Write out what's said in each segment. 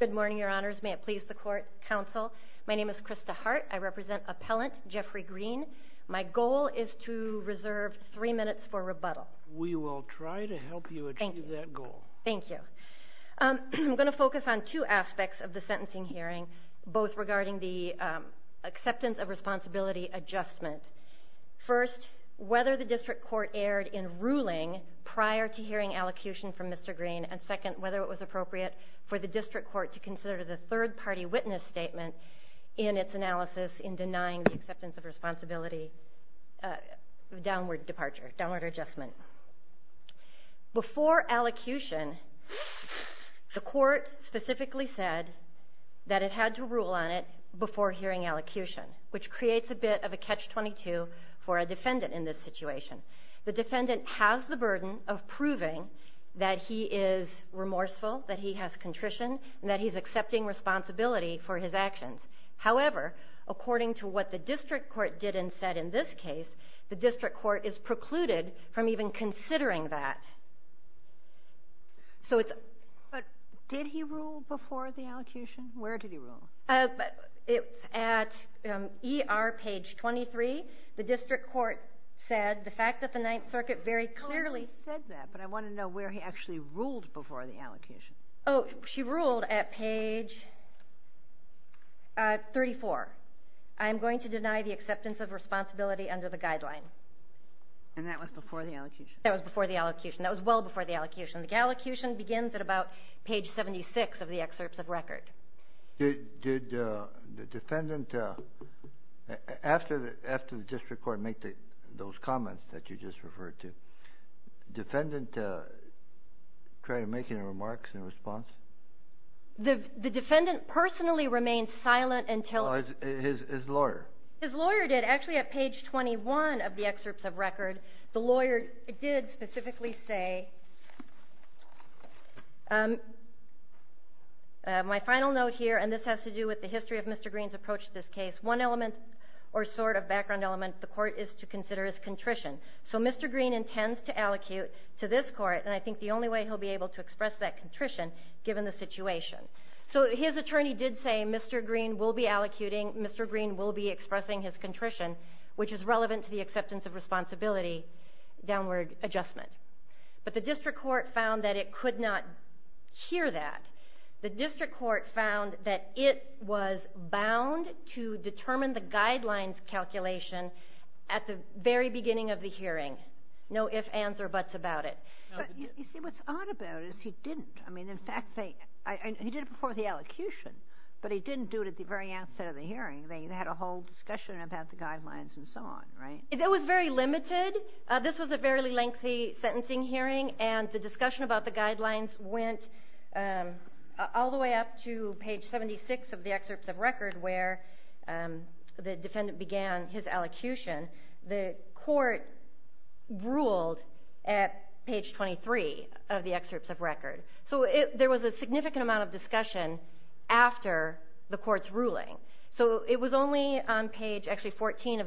Good morning, your honors. May it please the court counsel. My name is Krista Hart. I represent appellant Jeffrey Green. My goal is to reserve three minutes for rebuttal. We will try to help you achieve that goal. Thank you. I'm going to focus on two aspects of the sentencing hearing, both regarding the acceptance of responsibility adjustment. First, whether the district court erred in ruling prior to hearing allocution from Mr. Green, and second, whether it was appropriate for the district court to consider the third-party witness statement in its analysis in denying the acceptance of responsibility, downward departure, downward adjustment. Before allocution, the court specifically said that it had to rule on it before hearing allocution, which creates a bit of a catch-22 for a defendant in this situation. The defendant has the burden of proving that he is remorseful, that he has contrition, and that he's accepting responsibility for his actions. However, according to what the district court did and said in this case, the district court is precluded from even considering that. Did he rule before the allocution? Where did he rule? It's at ER page 23. The district court said the fact that the Ninth Circuit very clearly said that, but I want to know where he actually ruled before the allocation. Oh, she ruled at page 34. I'm going to deny the acceptance of responsibility under the guideline. And that was before the allocation? That was before the allocation. That was well before the allocation. The allocution begins at about page 76 of the excerpts of record. Did the defendant, after the district court made those comments that you just referred to, did the defendant try to make any remarks in response? The defendant personally remained silent until... His lawyer? His lawyer did. Actually, at page 21 of the excerpts of record, the lawyer did specifically say... My final note here, and this has to do with the history of Mr. Greene's approach to this case, one element or sort of background element the court is to consider is contrition. So Mr. Greene intends to allocute to this court, and I think the only way he'll be able to express that contrition, given the situation. So his attorney did say Mr. Greene will be is relevant to the acceptance of responsibility, downward adjustment. But the district court found that it could not hear that. The district court found that it was bound to determine the guidelines calculation at the very beginning of the hearing. No ifs, ands, or buts about it. You see, what's odd about it is he didn't. I mean, in fact, he did it before the allocation, but he didn't do it at the very outset of the hearing. They had a whole discussion about the guidelines and so on, right? It was very limited. This was a fairly lengthy sentencing hearing, and the discussion about the guidelines went all the way up to page 76 of the excerpts of record, where the defendant began his allocution. The court ruled at page 23 of the excerpts of record. So there was a significant amount of discussion after the court's ruling. So it was only on page actually 14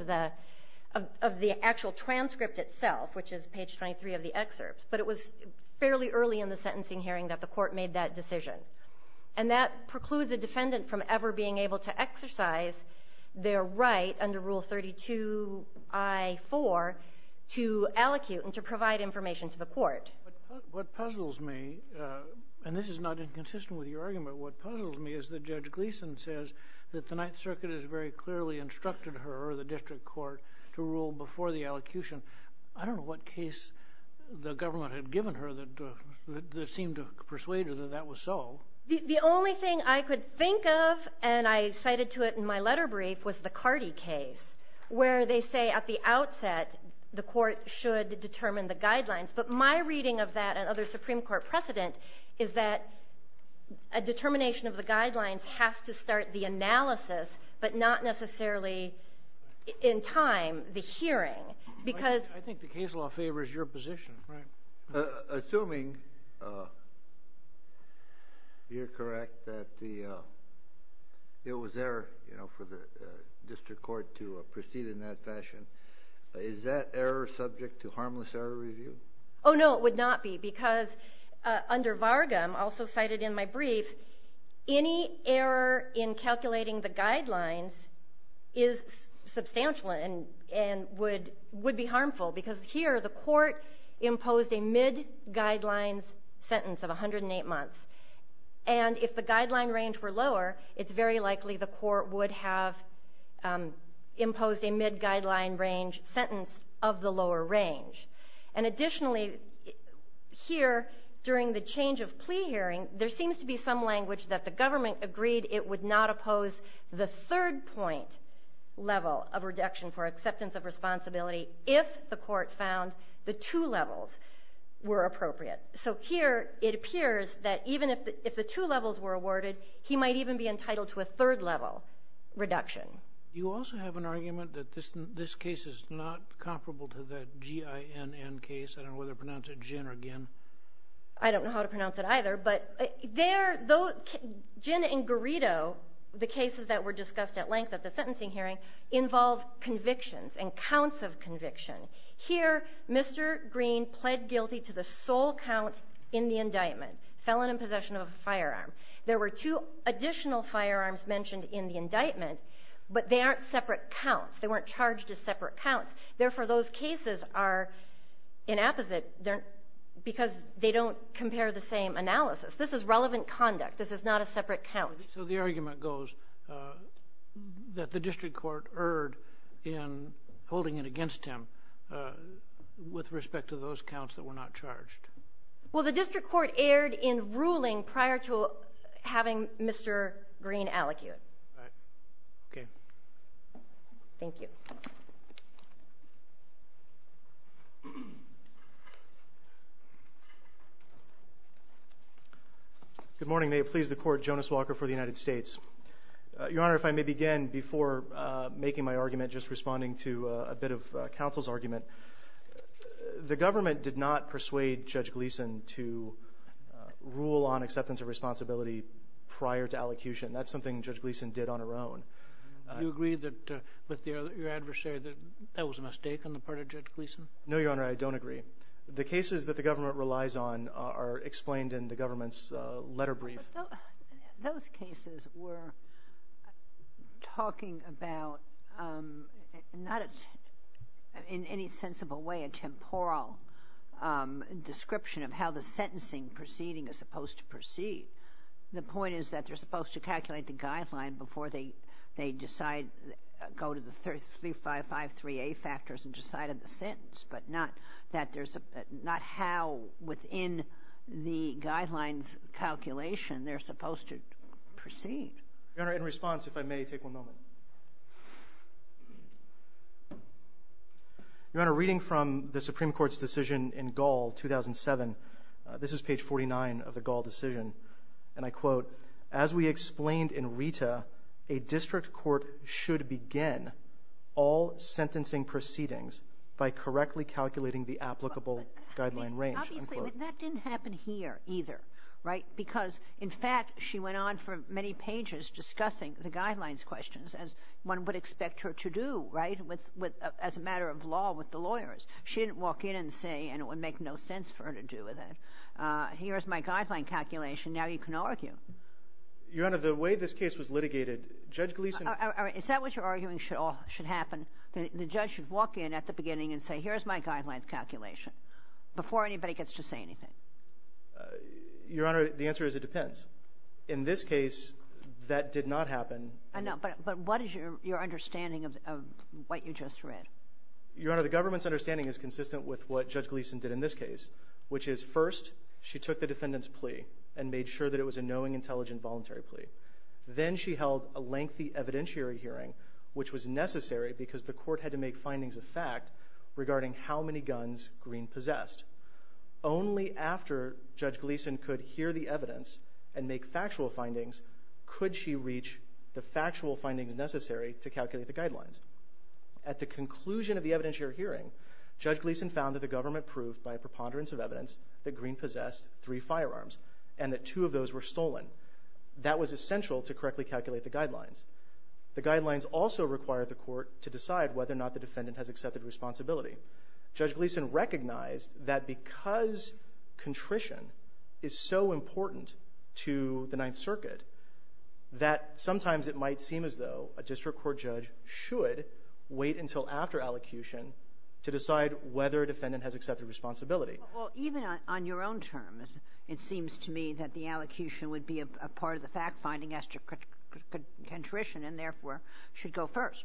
of the actual transcript itself, which is page 23 of the excerpts, but it was fairly early in the sentencing hearing that the court made that decision. And that precludes a defendant from ever being able to exercise their right under Rule 32 I-4 to allocute and to provide information to the court. What puzzles me, and this is not inconsistent with your argument, what puzzles me is that Judge Gleeson says that the Ninth Circuit has very clearly instructed her, or the district court, to rule before the allocution. I don't know what case the government had given her that seemed to persuade her that that was so. The only thing I could think of, and I cited to it in my letter brief, was the Cardi case, where they say at the outset the court should determine the guidelines. But my reading of that and other Supreme Court precedent is that a determination of the guidelines has to start the analysis, but not necessarily in time the hearing, because... I think the case law favors your position, right? Assuming you're correct that it was there for the district court to proceed in that fashion, is that error subject to harmless error review? Oh no, it would not be, because under Varga, also cited in my brief, any error in calculating the guidelines is substantial and would be harmful, because here the court imposed a mid-guidelines sentence of 108 months. And if the guideline range were lower, it's very likely the court would have imposed a mid-guideline range sentence of the lower range. And additionally, here during the change of plea hearing, there seems to be some language that the government agreed it would not oppose the third point level of reduction for acceptance of responsibility if the court found the two levels were appropriate. So here it appears that even if the two levels were awarded, he might even be entitled to a third level reduction. You also have an argument that this case is not comparable to the G.I.N.N. case. I don't know whether to pronounce it gin or gin. I don't know how to pronounce it either, but gin and gurido, the cases that were discussed at length at the sentencing hearing, involve convictions and counts of conviction. Here Mr. Green pled guilty to the sole count in the indictment, felon in possession of a firearm. There were two additional firearms mentioned in the indictment, but they aren't separate counts. They weren't charged as separate counts. Therefore, those cases are inapposite because they don't compare the same analysis. This is relevant conduct. This is not a separate count. So the argument goes that the district court erred in holding it against him with respect to those counts that were not charged. Well, the district court erred in ruling prior to having Mr. Green allecute. Thank you. Good morning. May it please the Court, Jonas Walker for the United States. Your Honor, if I may begin before making my argument, just responding to a bit of counsel's argument. The government did not persuade Judge Gleeson to rule on acceptance of responsibility prior to allocution. That's something Judge Gleeson did on her own. Do you agree with your adversary that that was a mistake on the part of Judge Gleeson? No, Your Honor, I don't agree. The cases that the government relies on are explained in the government's letter brief. Those cases were talking about not in any sensible way a temporal description of how the sentencing proceeding is supposed to proceed. The point is that they're supposed to calculate the guideline before they decide, go to the 3553A factors and decide on the sentence, but not how within the guideline's calculation they're supposed to proceed. Your Honor, in response, if I may, take one moment. Your Honor, reading from the Supreme Court's decision in Gall, 2007, this is page 49 of the Gall decision, and I quote, As we explained in Rita, a district court should begin all sentencing proceedings by correctly calculating the applicable guideline range. Obviously, but that didn't happen here either, right? Because, in fact, she went on for many pages discussing the guidelines questions, as one would expect her to do, right, as a matter of law with the lawyers. She didn't walk in and say, and it would make no sense for her to do that, here's my guideline calculation, now you can argue. Your Honor, the way this case was litigated, Judge Gleeson... Is that what you're arguing should happen? The judge should walk in at the beginning and say, here's my guidelines calculation, before anybody gets to say anything? Your Honor, the answer is it depends. In this case, that did not happen. I know, but what is your understanding of what you just read? Your Honor, the government's understanding is consistent with what Judge Gleeson did in this case, which is first she took the defendant's plea and made sure that it was a knowing, intelligent, voluntary plea. Then she held a lengthy evidentiary hearing, which was necessary because the court had to make findings of fact regarding how many guns Green possessed. Only after Judge Gleeson could hear the evidence and make factual findings could she reach the factual findings necessary to calculate the guidelines. At the conclusion of the evidentiary hearing, Judge Gleeson found that the government proved by a preponderance of evidence that Green possessed three firearms and that two of those were stolen. That was essential to correctly calculate the guidelines. The guidelines also required the court to decide whether or not the defendant has accepted responsibility. Judge Gleeson recognized that because contrition is so important to the Ninth Circuit, that sometimes it might seem as though a district court judge should wait until after allocution to decide whether a defendant has accepted responsibility. Even on your own terms, it seems to me that the allocution would be a part of the fact finding as to contrition and therefore should go first.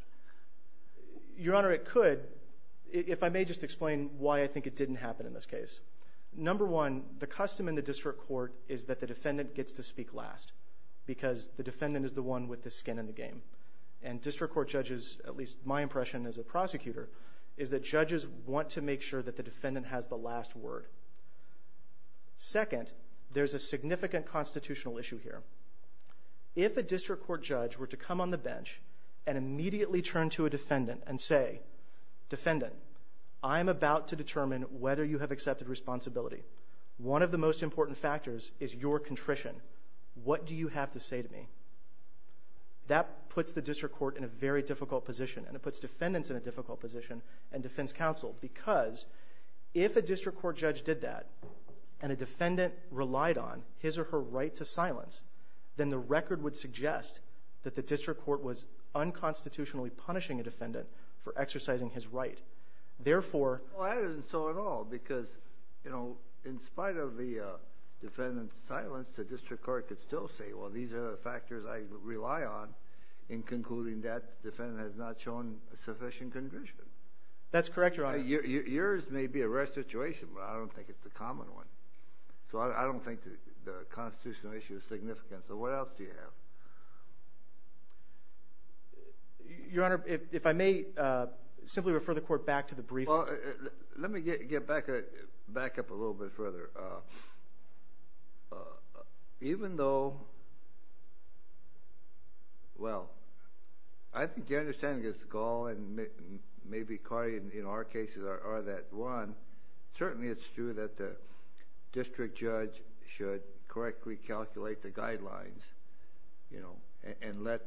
Your Honor, it could. If I may just explain why I think it didn't happen in this case. Number one, the custom in the district court is that the defendant gets to speak last because the defendant is the one with the skin in the game. And district court judges, at least my impression as a prosecutor, is that judges want to make sure that the defendant has the last word. Second, there's a significant constitutional issue here. If a district court judge were to come on the bench and immediately turn to a defendant and say, defendant, I'm about to determine whether you have accepted responsibility. One of the most important factors is your contrition. What do you have to say to me? That puts the district court in a very difficult position and it puts defendants in a difficult position and defense counsel because if a district court judge did that and a defendant relied on his or her right to silence, then the record would suggest that the district court was unconstitutionally punishing a defendant for exercising his right. That isn't so at all because in spite of the defendant's silence, the district court could still say, well, these are the factors I rely on in concluding that the defendant has not shown sufficient condition. That's correct, Your Honor. Yours may be a rare situation, but I don't think it's a common one. So I don't think the constitutional issue is significant. So what else do you have? Your Honor, if I may simply refer the court back to the briefing. Well, let me get back up a little bit further. Even though, well, I think your understanding is the goal and maybe in our cases are that, one, certainly it's true that the district judge should correctly calculate the guidelines and let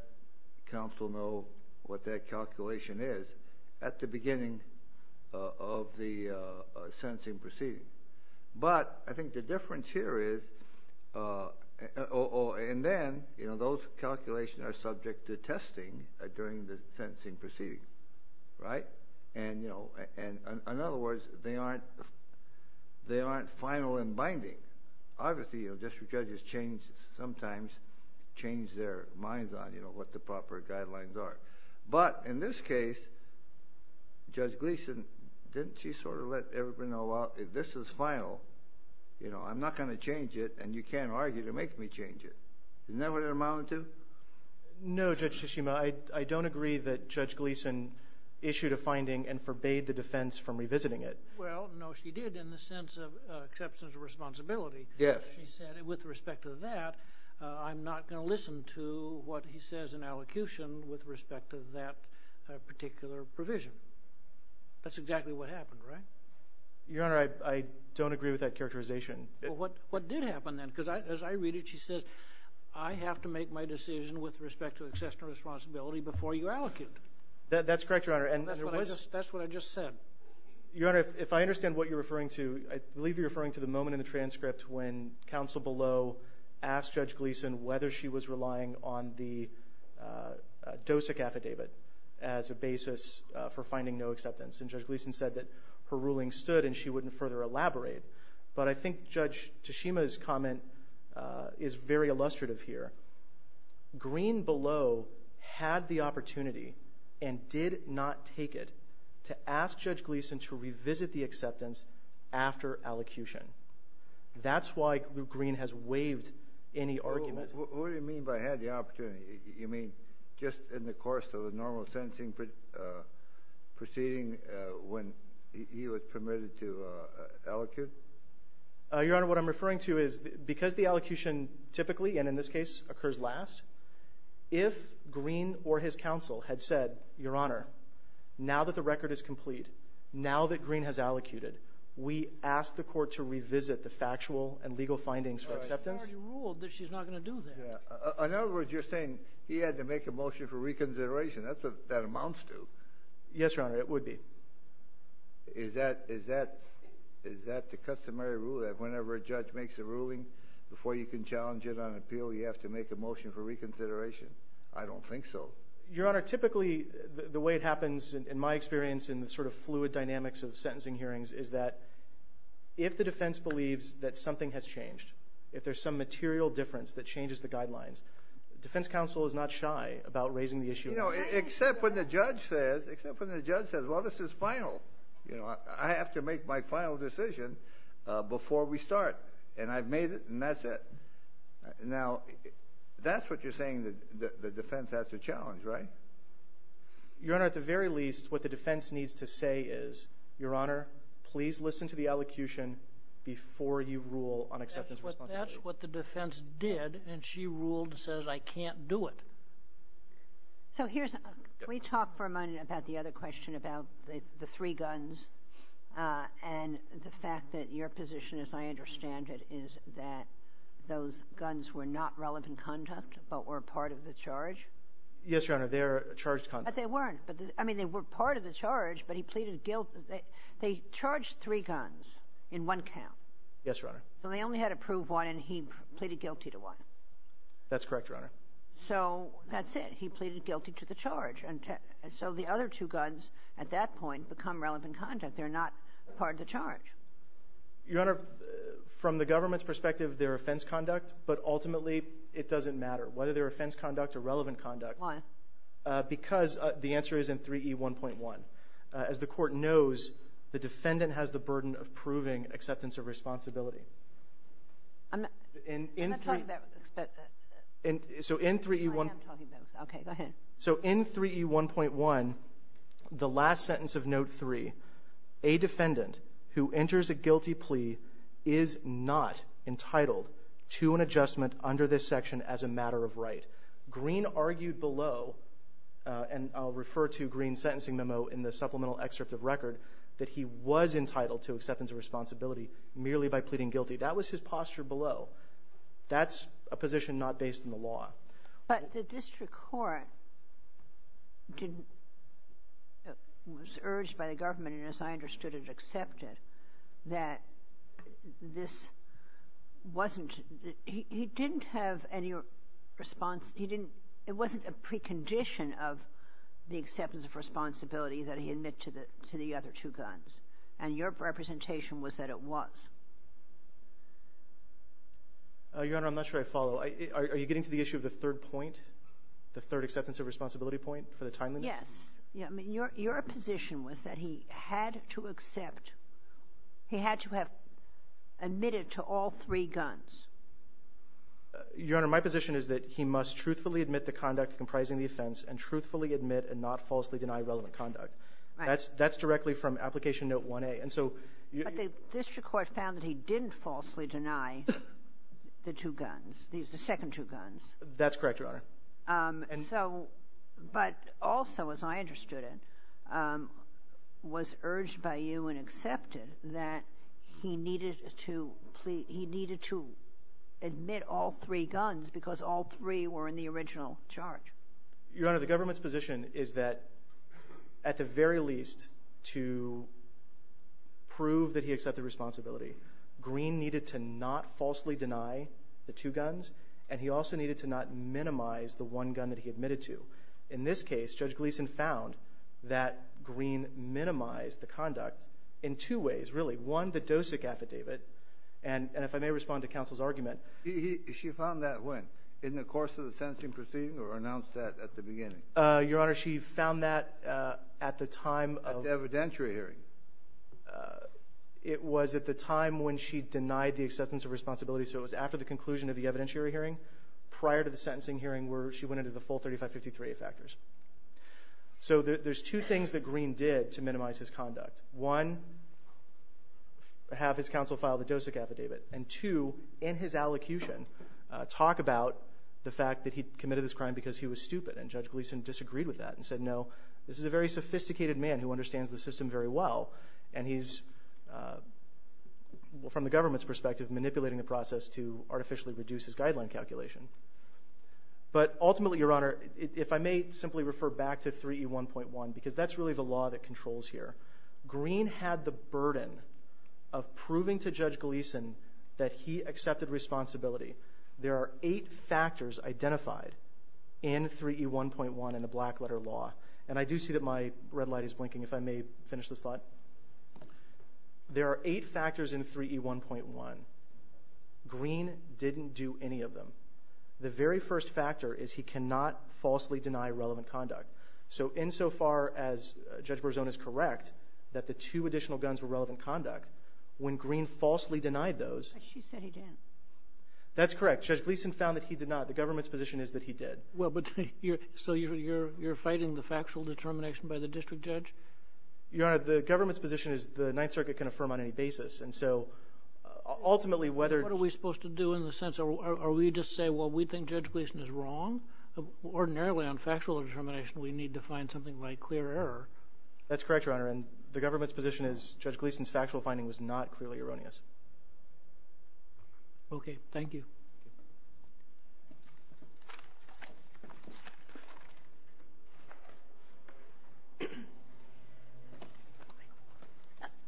counsel know what that calculation is. At the beginning of the sentencing proceeding. But I think the difference here is, and then, you know, those calculations are subject to testing during the sentencing proceeding. Right? And, you know, in other words, they aren't final and binding. Obviously, you know, district judges change, sometimes change their minds on, you know, what the proper guidelines are. But in this case, Judge Gleeson, didn't she sort of let everybody know, well, if this is final, you know, I'm not going to change it, and you can't argue to make me change it. Isn't that what it amounted to? No, Judge Tsushima, I don't agree that Judge Gleeson issued a finding and forbade the defense from revisiting it. Well, no, she did in the sense of exceptions of responsibility. Yes. She said, with respect to that, I'm not going to listen to what he says in allocution with respect to that particular provision. That's exactly what happened, right? Your Honor, I don't agree with that characterization. Well, what did happen then? Because as I read it, she says, I have to make my decision with respect to exception of responsibility before you allocate. That's correct, Your Honor. That's what I just said. Your Honor, if I understand what you're referring to, I believe you're referring to the moment in the transcript when counsel below asked Judge Gleeson whether she was relying on the DOSIC affidavit as a basis for finding no acceptance, and Judge Gleeson said that her ruling stood and she wouldn't further elaborate. But I think Judge Tsushima's comment is very illustrative here. Green below had the opportunity and did not take it to ask Judge Gleeson to revisit the acceptance after allocution. That's why Luke Green has waived any argument. What do you mean by had the opportunity? You mean just in the course of the normal sentencing proceeding when he was permitted to allocate? Your Honor, what I'm referring to is because the allocution typically, and in this case occurs last, if Green or his counsel had said, Your Honor, now that the record is complete, now that Green has allocated, we ask the court to revisit the factual and legal findings for acceptance. She's already ruled that she's not going to do that. In other words, you're saying he had to make a motion for reconsideration. That's what that amounts to. Yes, Your Honor, it would be. Is that the customary rule that whenever a judge makes a ruling, before you can challenge it on appeal, you have to make a motion for reconsideration? I don't think so. Your Honor, typically the way it happens, in my experience, in the sort of fluid dynamics of sentencing hearings, is that if the defense believes that something has changed, if there's some material difference that changes the guidelines, defense counsel is not shy about raising the issue. Except when the judge says, well, this is final. I have to make my final decision before we start, and I've made it, and that's it. Now, that's what you're saying the defense has to challenge, right? Your Honor, at the very least, what the defense needs to say is, Your Honor, please listen to the elocution before you rule on acceptance of responsibility. That's what the defense did, and she ruled, says, I can't do it. So here's, can we talk for a moment about the other question about the three guns and the fact that your position, as I understand it, is that those guns were not relevant conduct but were part of the charge? Yes, Your Honor, they're charged conduct. But they weren't. I mean, they were part of the charge, but he pleaded guilty. They charged three guns in one count. Yes, Your Honor. So they only had to prove one, and he pleaded guilty to one. That's correct, Your Honor. So that's it. He pleaded guilty to the charge. So the other two guns at that point become relevant conduct. They're not part of the charge. Your Honor, from the government's perspective, they're offense conduct, but ultimately it doesn't matter whether they're offense conduct or relevant conduct. Why? Because the answer is in 3E1.1. As the court knows, the defendant has the burden of proving acceptance of responsibility. I'm not talking about acceptance. So in 3E1... I am talking about acceptance. Okay, go ahead. So in 3E1.1, the last sentence of Note 3, a defendant who enters a guilty plea is not entitled to an adjustment under this section as a matter of right. Green argued below, and I'll refer to Green's sentencing memo in the supplemental excerpt of record, that he was entitled to acceptance of responsibility merely by pleading guilty. That was his posture below. That's a position not based on the law. But the district court was urged by the government, and as I understood it, accepted that this wasn't he didn't have any response. He didn't... It wasn't a precondition of the acceptance of responsibility that he admit to the other two guns, and your representation was that it was. Your Honor, I'm not sure I follow. Are you getting to the issue of the third point, the third acceptance of responsibility point for the time limit? Yes. I mean, your position was that he had to accept... He had to have admitted to all three guns. Your Honor, my position is that he must truthfully admit to conduct comprising the offense and truthfully admit and not falsely deny relevant conduct. That's directly from Application Note 1A. But the district court found that he didn't falsely deny the two guns, the second two guns. That's correct, Your Honor. But also, as I understood it, was urged by you and accepted that he needed to admit all three guns because all three were in the original charge. Your Honor, the government's position is that, at the very least, to prove that he accepted responsibility, Greene needed to not falsely deny the two guns, and he also needed to not minimize the one gun that he admitted to. In this case, Judge Gleeson found that Greene minimized the conduct in two ways, really. One, the DOSIC affidavit, and if I may respond to counsel's argument... Your Honor, she found that at the time of... At the evidentiary hearing. It was at the time when she denied the acceptance of responsibility, so it was after the conclusion of the evidentiary hearing prior to the sentencing hearing where she went into the full 3553A factors. So there's two things that Greene did to minimize his conduct. One, have his counsel file the DOSIC affidavit, and two, in his allocution, talk about the fact that he committed this crime because he was stupid, and Judge Gleeson disagreed with that and said, no, this is a very sophisticated man who understands the system very well, and he's, from the government's perspective, manipulating the process to artificially reduce his guideline calculation. But ultimately, Your Honor, if I may simply refer back to 3E1.1, because that's really the law that controls here, Greene had the burden of proving to Judge Gleeson that he accepted responsibility. There are eight factors identified in 3E1.1 in the Blackletter Law, and I do see that my red light is blinking if I may finish this thought. There are eight factors in 3E1.1. Greene didn't do any of them. The very first factor is he cannot falsely deny relevant conduct. So insofar as Judge Berzon is correct that the two additional guns were relevant conduct, when Greene falsely denied those. She said he didn't. That's correct. Judge Gleeson found that he did not. The government's position is that he did. So you're fighting the factual determination by the district judge? Your Honor, the government's position is the Ninth Circuit can affirm on any basis, and so ultimately whether— What are we supposed to do in the sense, are we just say, well, we think Judge Gleeson is wrong? Ordinarily on factual determination we need to find something like clear error. That's correct, Your Honor, and the government's position is Judge Gleeson's factual finding was not clearly erroneous. Okay. Thank you.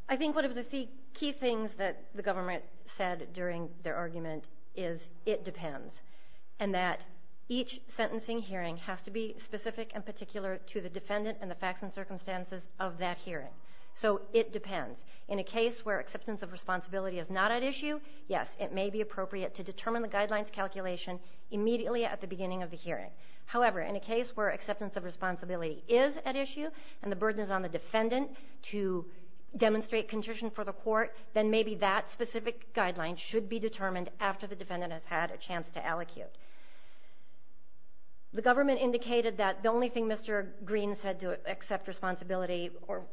I think one of the key things that the government said during their argument is it depends and that each sentencing hearing has to be specific and particular to the defendant and the facts and circumstances of that hearing. So it depends. In a case where acceptance of responsibility is not at issue, yes, it may be appropriate to determine the guidelines calculation immediately at the beginning of the hearing. However, in a case where acceptance of responsibility is at issue and the burden is on the defendant to demonstrate contrition for the court, then maybe that specific guideline should be determined after the defendant has had a chance to allocute. The government indicated that the only thing Mr. Green said to accept responsibility or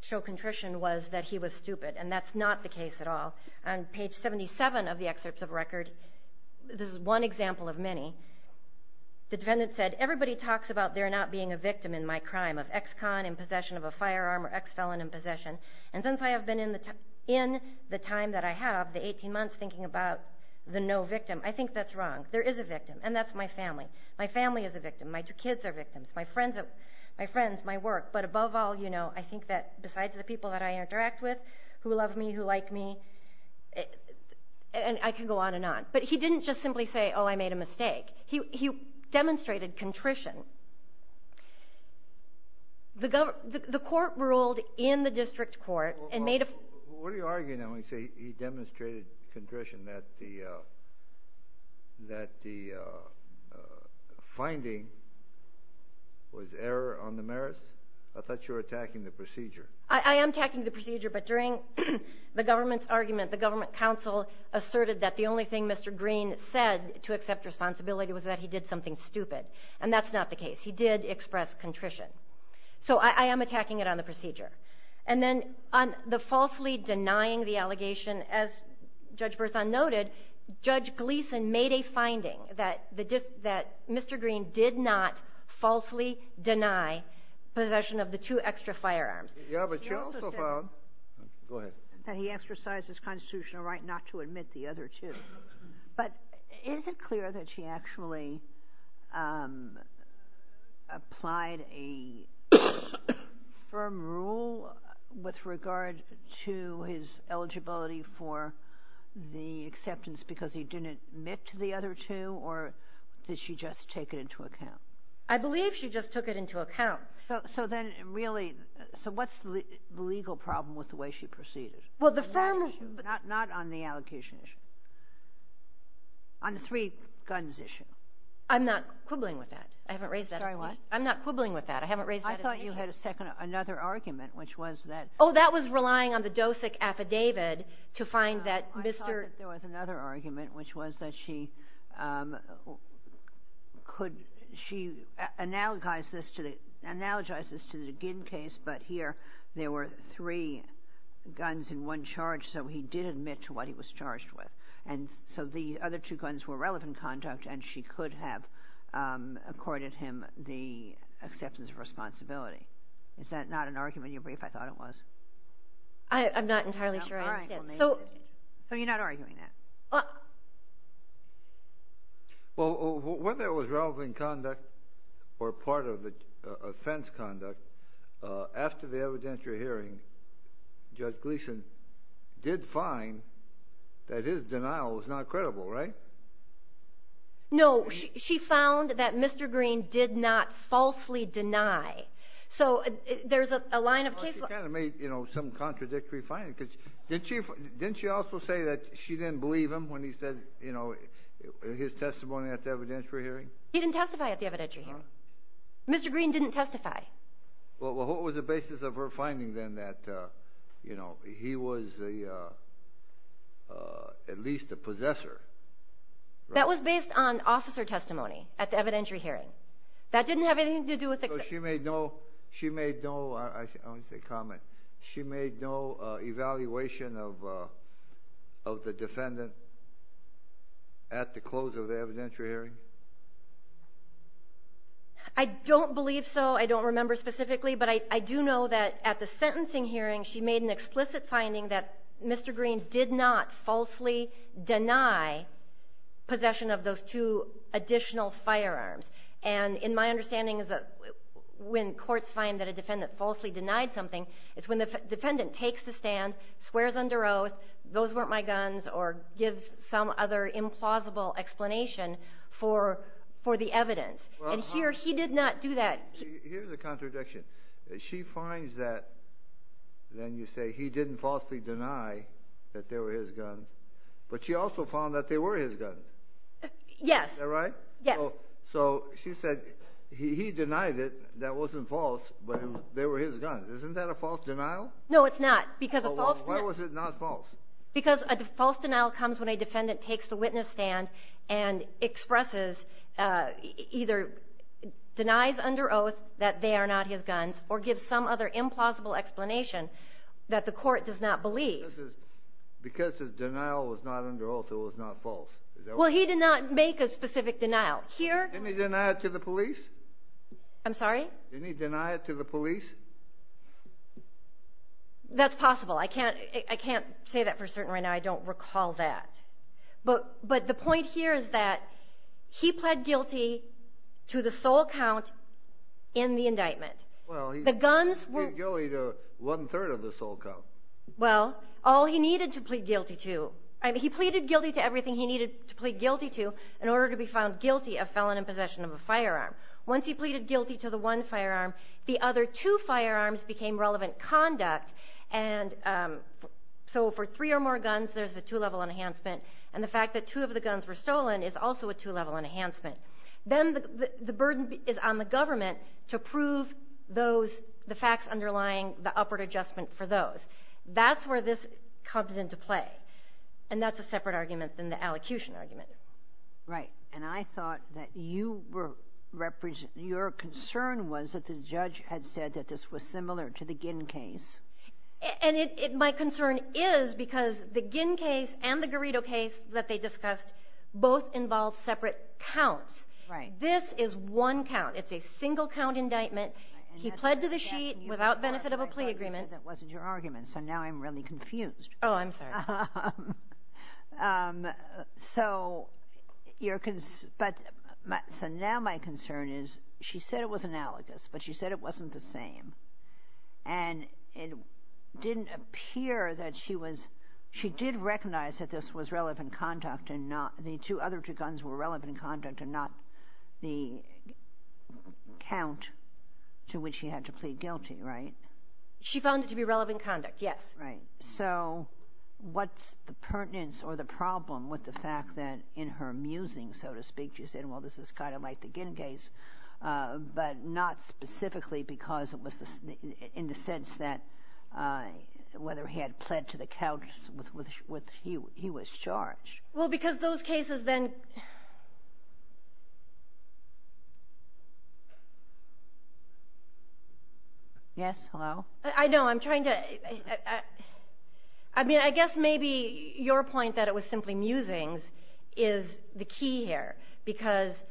show contrition was that he was stupid, and that's not the case at all. On page 77 of the excerpts of record, this is one example of many, the defendant said, Everybody talks about their not being a victim in my crime of ex-con, and since I have been in the time that I have, the 18 months, thinking about the no victim, I think that's wrong. There is a victim, and that's my family. My family is a victim. My kids are victims. My friends, my work. But above all, you know, I think that besides the people that I interact with, who love me, who like me, I can go on and on. But he didn't just simply say, Oh, I made a mistake. He demonstrated contrition. The court ruled in the district court and made a What are you arguing? He demonstrated contrition, that the finding was error on the merits? I thought you were attacking the procedure. I am attacking the procedure, but during the government's argument, the government counsel asserted that the only thing Mr. Green said to accept responsibility was that he did something stupid, and that's not the case. He did express contrition. So I am attacking it on the procedure. And then on the falsely denying the allegation, as Judge Berzon noted, Judge Gleeson made a finding that Mr. Green did not falsely deny possession of the two extra firearms. Yeah, but she also found that he exercised his constitutional right not to admit the other two. But is it clear that she actually applied a firm rule with regard to his eligibility for the acceptance because he didn't admit to the other two, or did she just take it into account? I believe she just took it into account. So then really, so what's the legal problem with the way she proceeded? Well, the firm rule. Not on the allocation issue. On the three-guns issue. I'm not quibbling with that. I haven't raised that issue. Sorry, what? I'm not quibbling with that. I haven't raised that issue. I thought you had another argument, which was that ---- Oh, that was relying on the DOSIC affidavit to find that Mr. ---- No, I thought that there was another argument, which was that she could ---- She analogized this to the Ginn case, but here there were three guns in one charge, so he did admit to what he was charged with. And so the other two guns were relevant conduct, and she could have accorded him the acceptance of responsibility. Is that not an argument you briefed? I thought it was. I'm not entirely sure I understand. So you're not arguing that? Well, whether it was relevant conduct or part of the offense conduct, after the evidentiary hearing, Judge Gleason did find that his denial was not credible, right? No, she found that Mr. Green did not falsely deny. So there's a line of case law ---- Well, she kind of made, you know, some contradictory findings. Didn't she also say that she didn't believe him when he said, you know, his testimony at the evidentiary hearing? He didn't testify at the evidentiary hearing. Mr. Green didn't testify. Well, what was the basis of her finding then that, you know, he was at least a possessor? That was based on officer testimony at the evidentiary hearing. That didn't have anything to do with ---- So she made no ---- I don't want to say comment. She made no evaluation of the defendant at the close of the evidentiary hearing? I don't believe so. I don't remember specifically. But I do know that at the sentencing hearing, she made an explicit finding that Mr. Green did not falsely deny possession of those two additional firearms. And my understanding is that when courts find that a defendant falsely denied something, it's when the defendant takes the stand, swears under oath, those weren't my guns, or gives some other implausible explanation for the evidence. And here he did not do that. Here's a contradiction. She finds that then you say he didn't falsely deny that they were his guns, but she also found that they were his guns. Yes. Is that right? Yes. So she said he denied it, that wasn't false, but they were his guns. Isn't that a false denial? No, it's not. Because a false ---- Why was it not false? Because a false denial comes when a defendant takes the witness stand and expresses either denies under oath that they are not his guns or gives some other implausible explanation that the court does not believe. Because the denial was not under oath, it was not false. Well, he did not make a specific denial. Didn't he deny it to the police? I'm sorry? Didn't he deny it to the police? That's possible. I can't say that for certain right now. I don't recall that. But the point here is that he pled guilty to the sole count in the indictment. Well, he pled guilty to one-third of the sole count. Well, all he needed to plead guilty to. He pleaded guilty to everything he needed to plead guilty to in order to be found guilty of felon in possession of a firearm. Once he pleaded guilty to the one firearm, the other two firearms became relevant conduct. And so for three or more guns, there's a two-level enhancement. And the fact that two of the guns were stolen is also a two-level enhancement. Then the burden is on the government to prove the facts underlying the upward adjustment for those. That's where this comes into play. And that's a separate argument than the allocution argument. Right. And I thought that you were ---- your concern was that the judge had said that this was similar to the Ginn case. And my concern is because the Ginn case and the Garrido case that they discussed both involved separate counts. Right. This is one count. It's a single-count indictment. He pled to the sheet without benefit of a plea agreement. You said that wasn't your argument, so now I'm really confused. Oh, I'm sorry. So your ---- but so now my concern is she said it was analogous, but she said it wasn't the same. And it didn't appear that she was ---- she did recognize that this was relevant conduct and not ---- the two other two guns were relevant conduct and not the count to which she had to plead guilty, right? She found it to be relevant conduct, yes. Right. So what's the pertinence or the problem with the fact that in her musing, so to speak, you said, well, this is kind of like the Ginn case, but not specifically because it was the ---- in the sense that whether he had pled to the couch with ---- he was charged. Well, because those cases then ---- Yes, hello? I know. I'm trying to ---- I mean, I guess maybe your point that it was simply musings is the key here because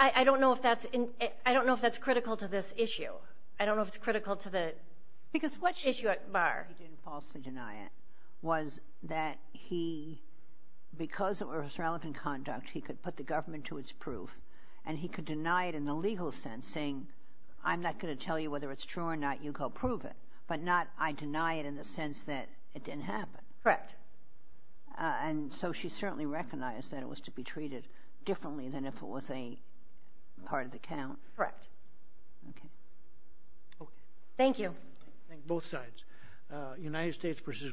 I don't know if that's in ---- I don't know if that's critical to this issue. I don't know if it's critical to the issue at bar. The reason why he didn't falsely deny it was that he, because it was relevant conduct, he could put the government to its proof and he could deny it in the legal sense saying I'm not going to tell you whether it's true or not, you go prove it, but not I deny it in the sense that it didn't happen. Correct. And so she certainly recognized that it was to be treated differently than if it was a part of the count. Correct. Okay. Okay. Thank you. Thank you. Thank you.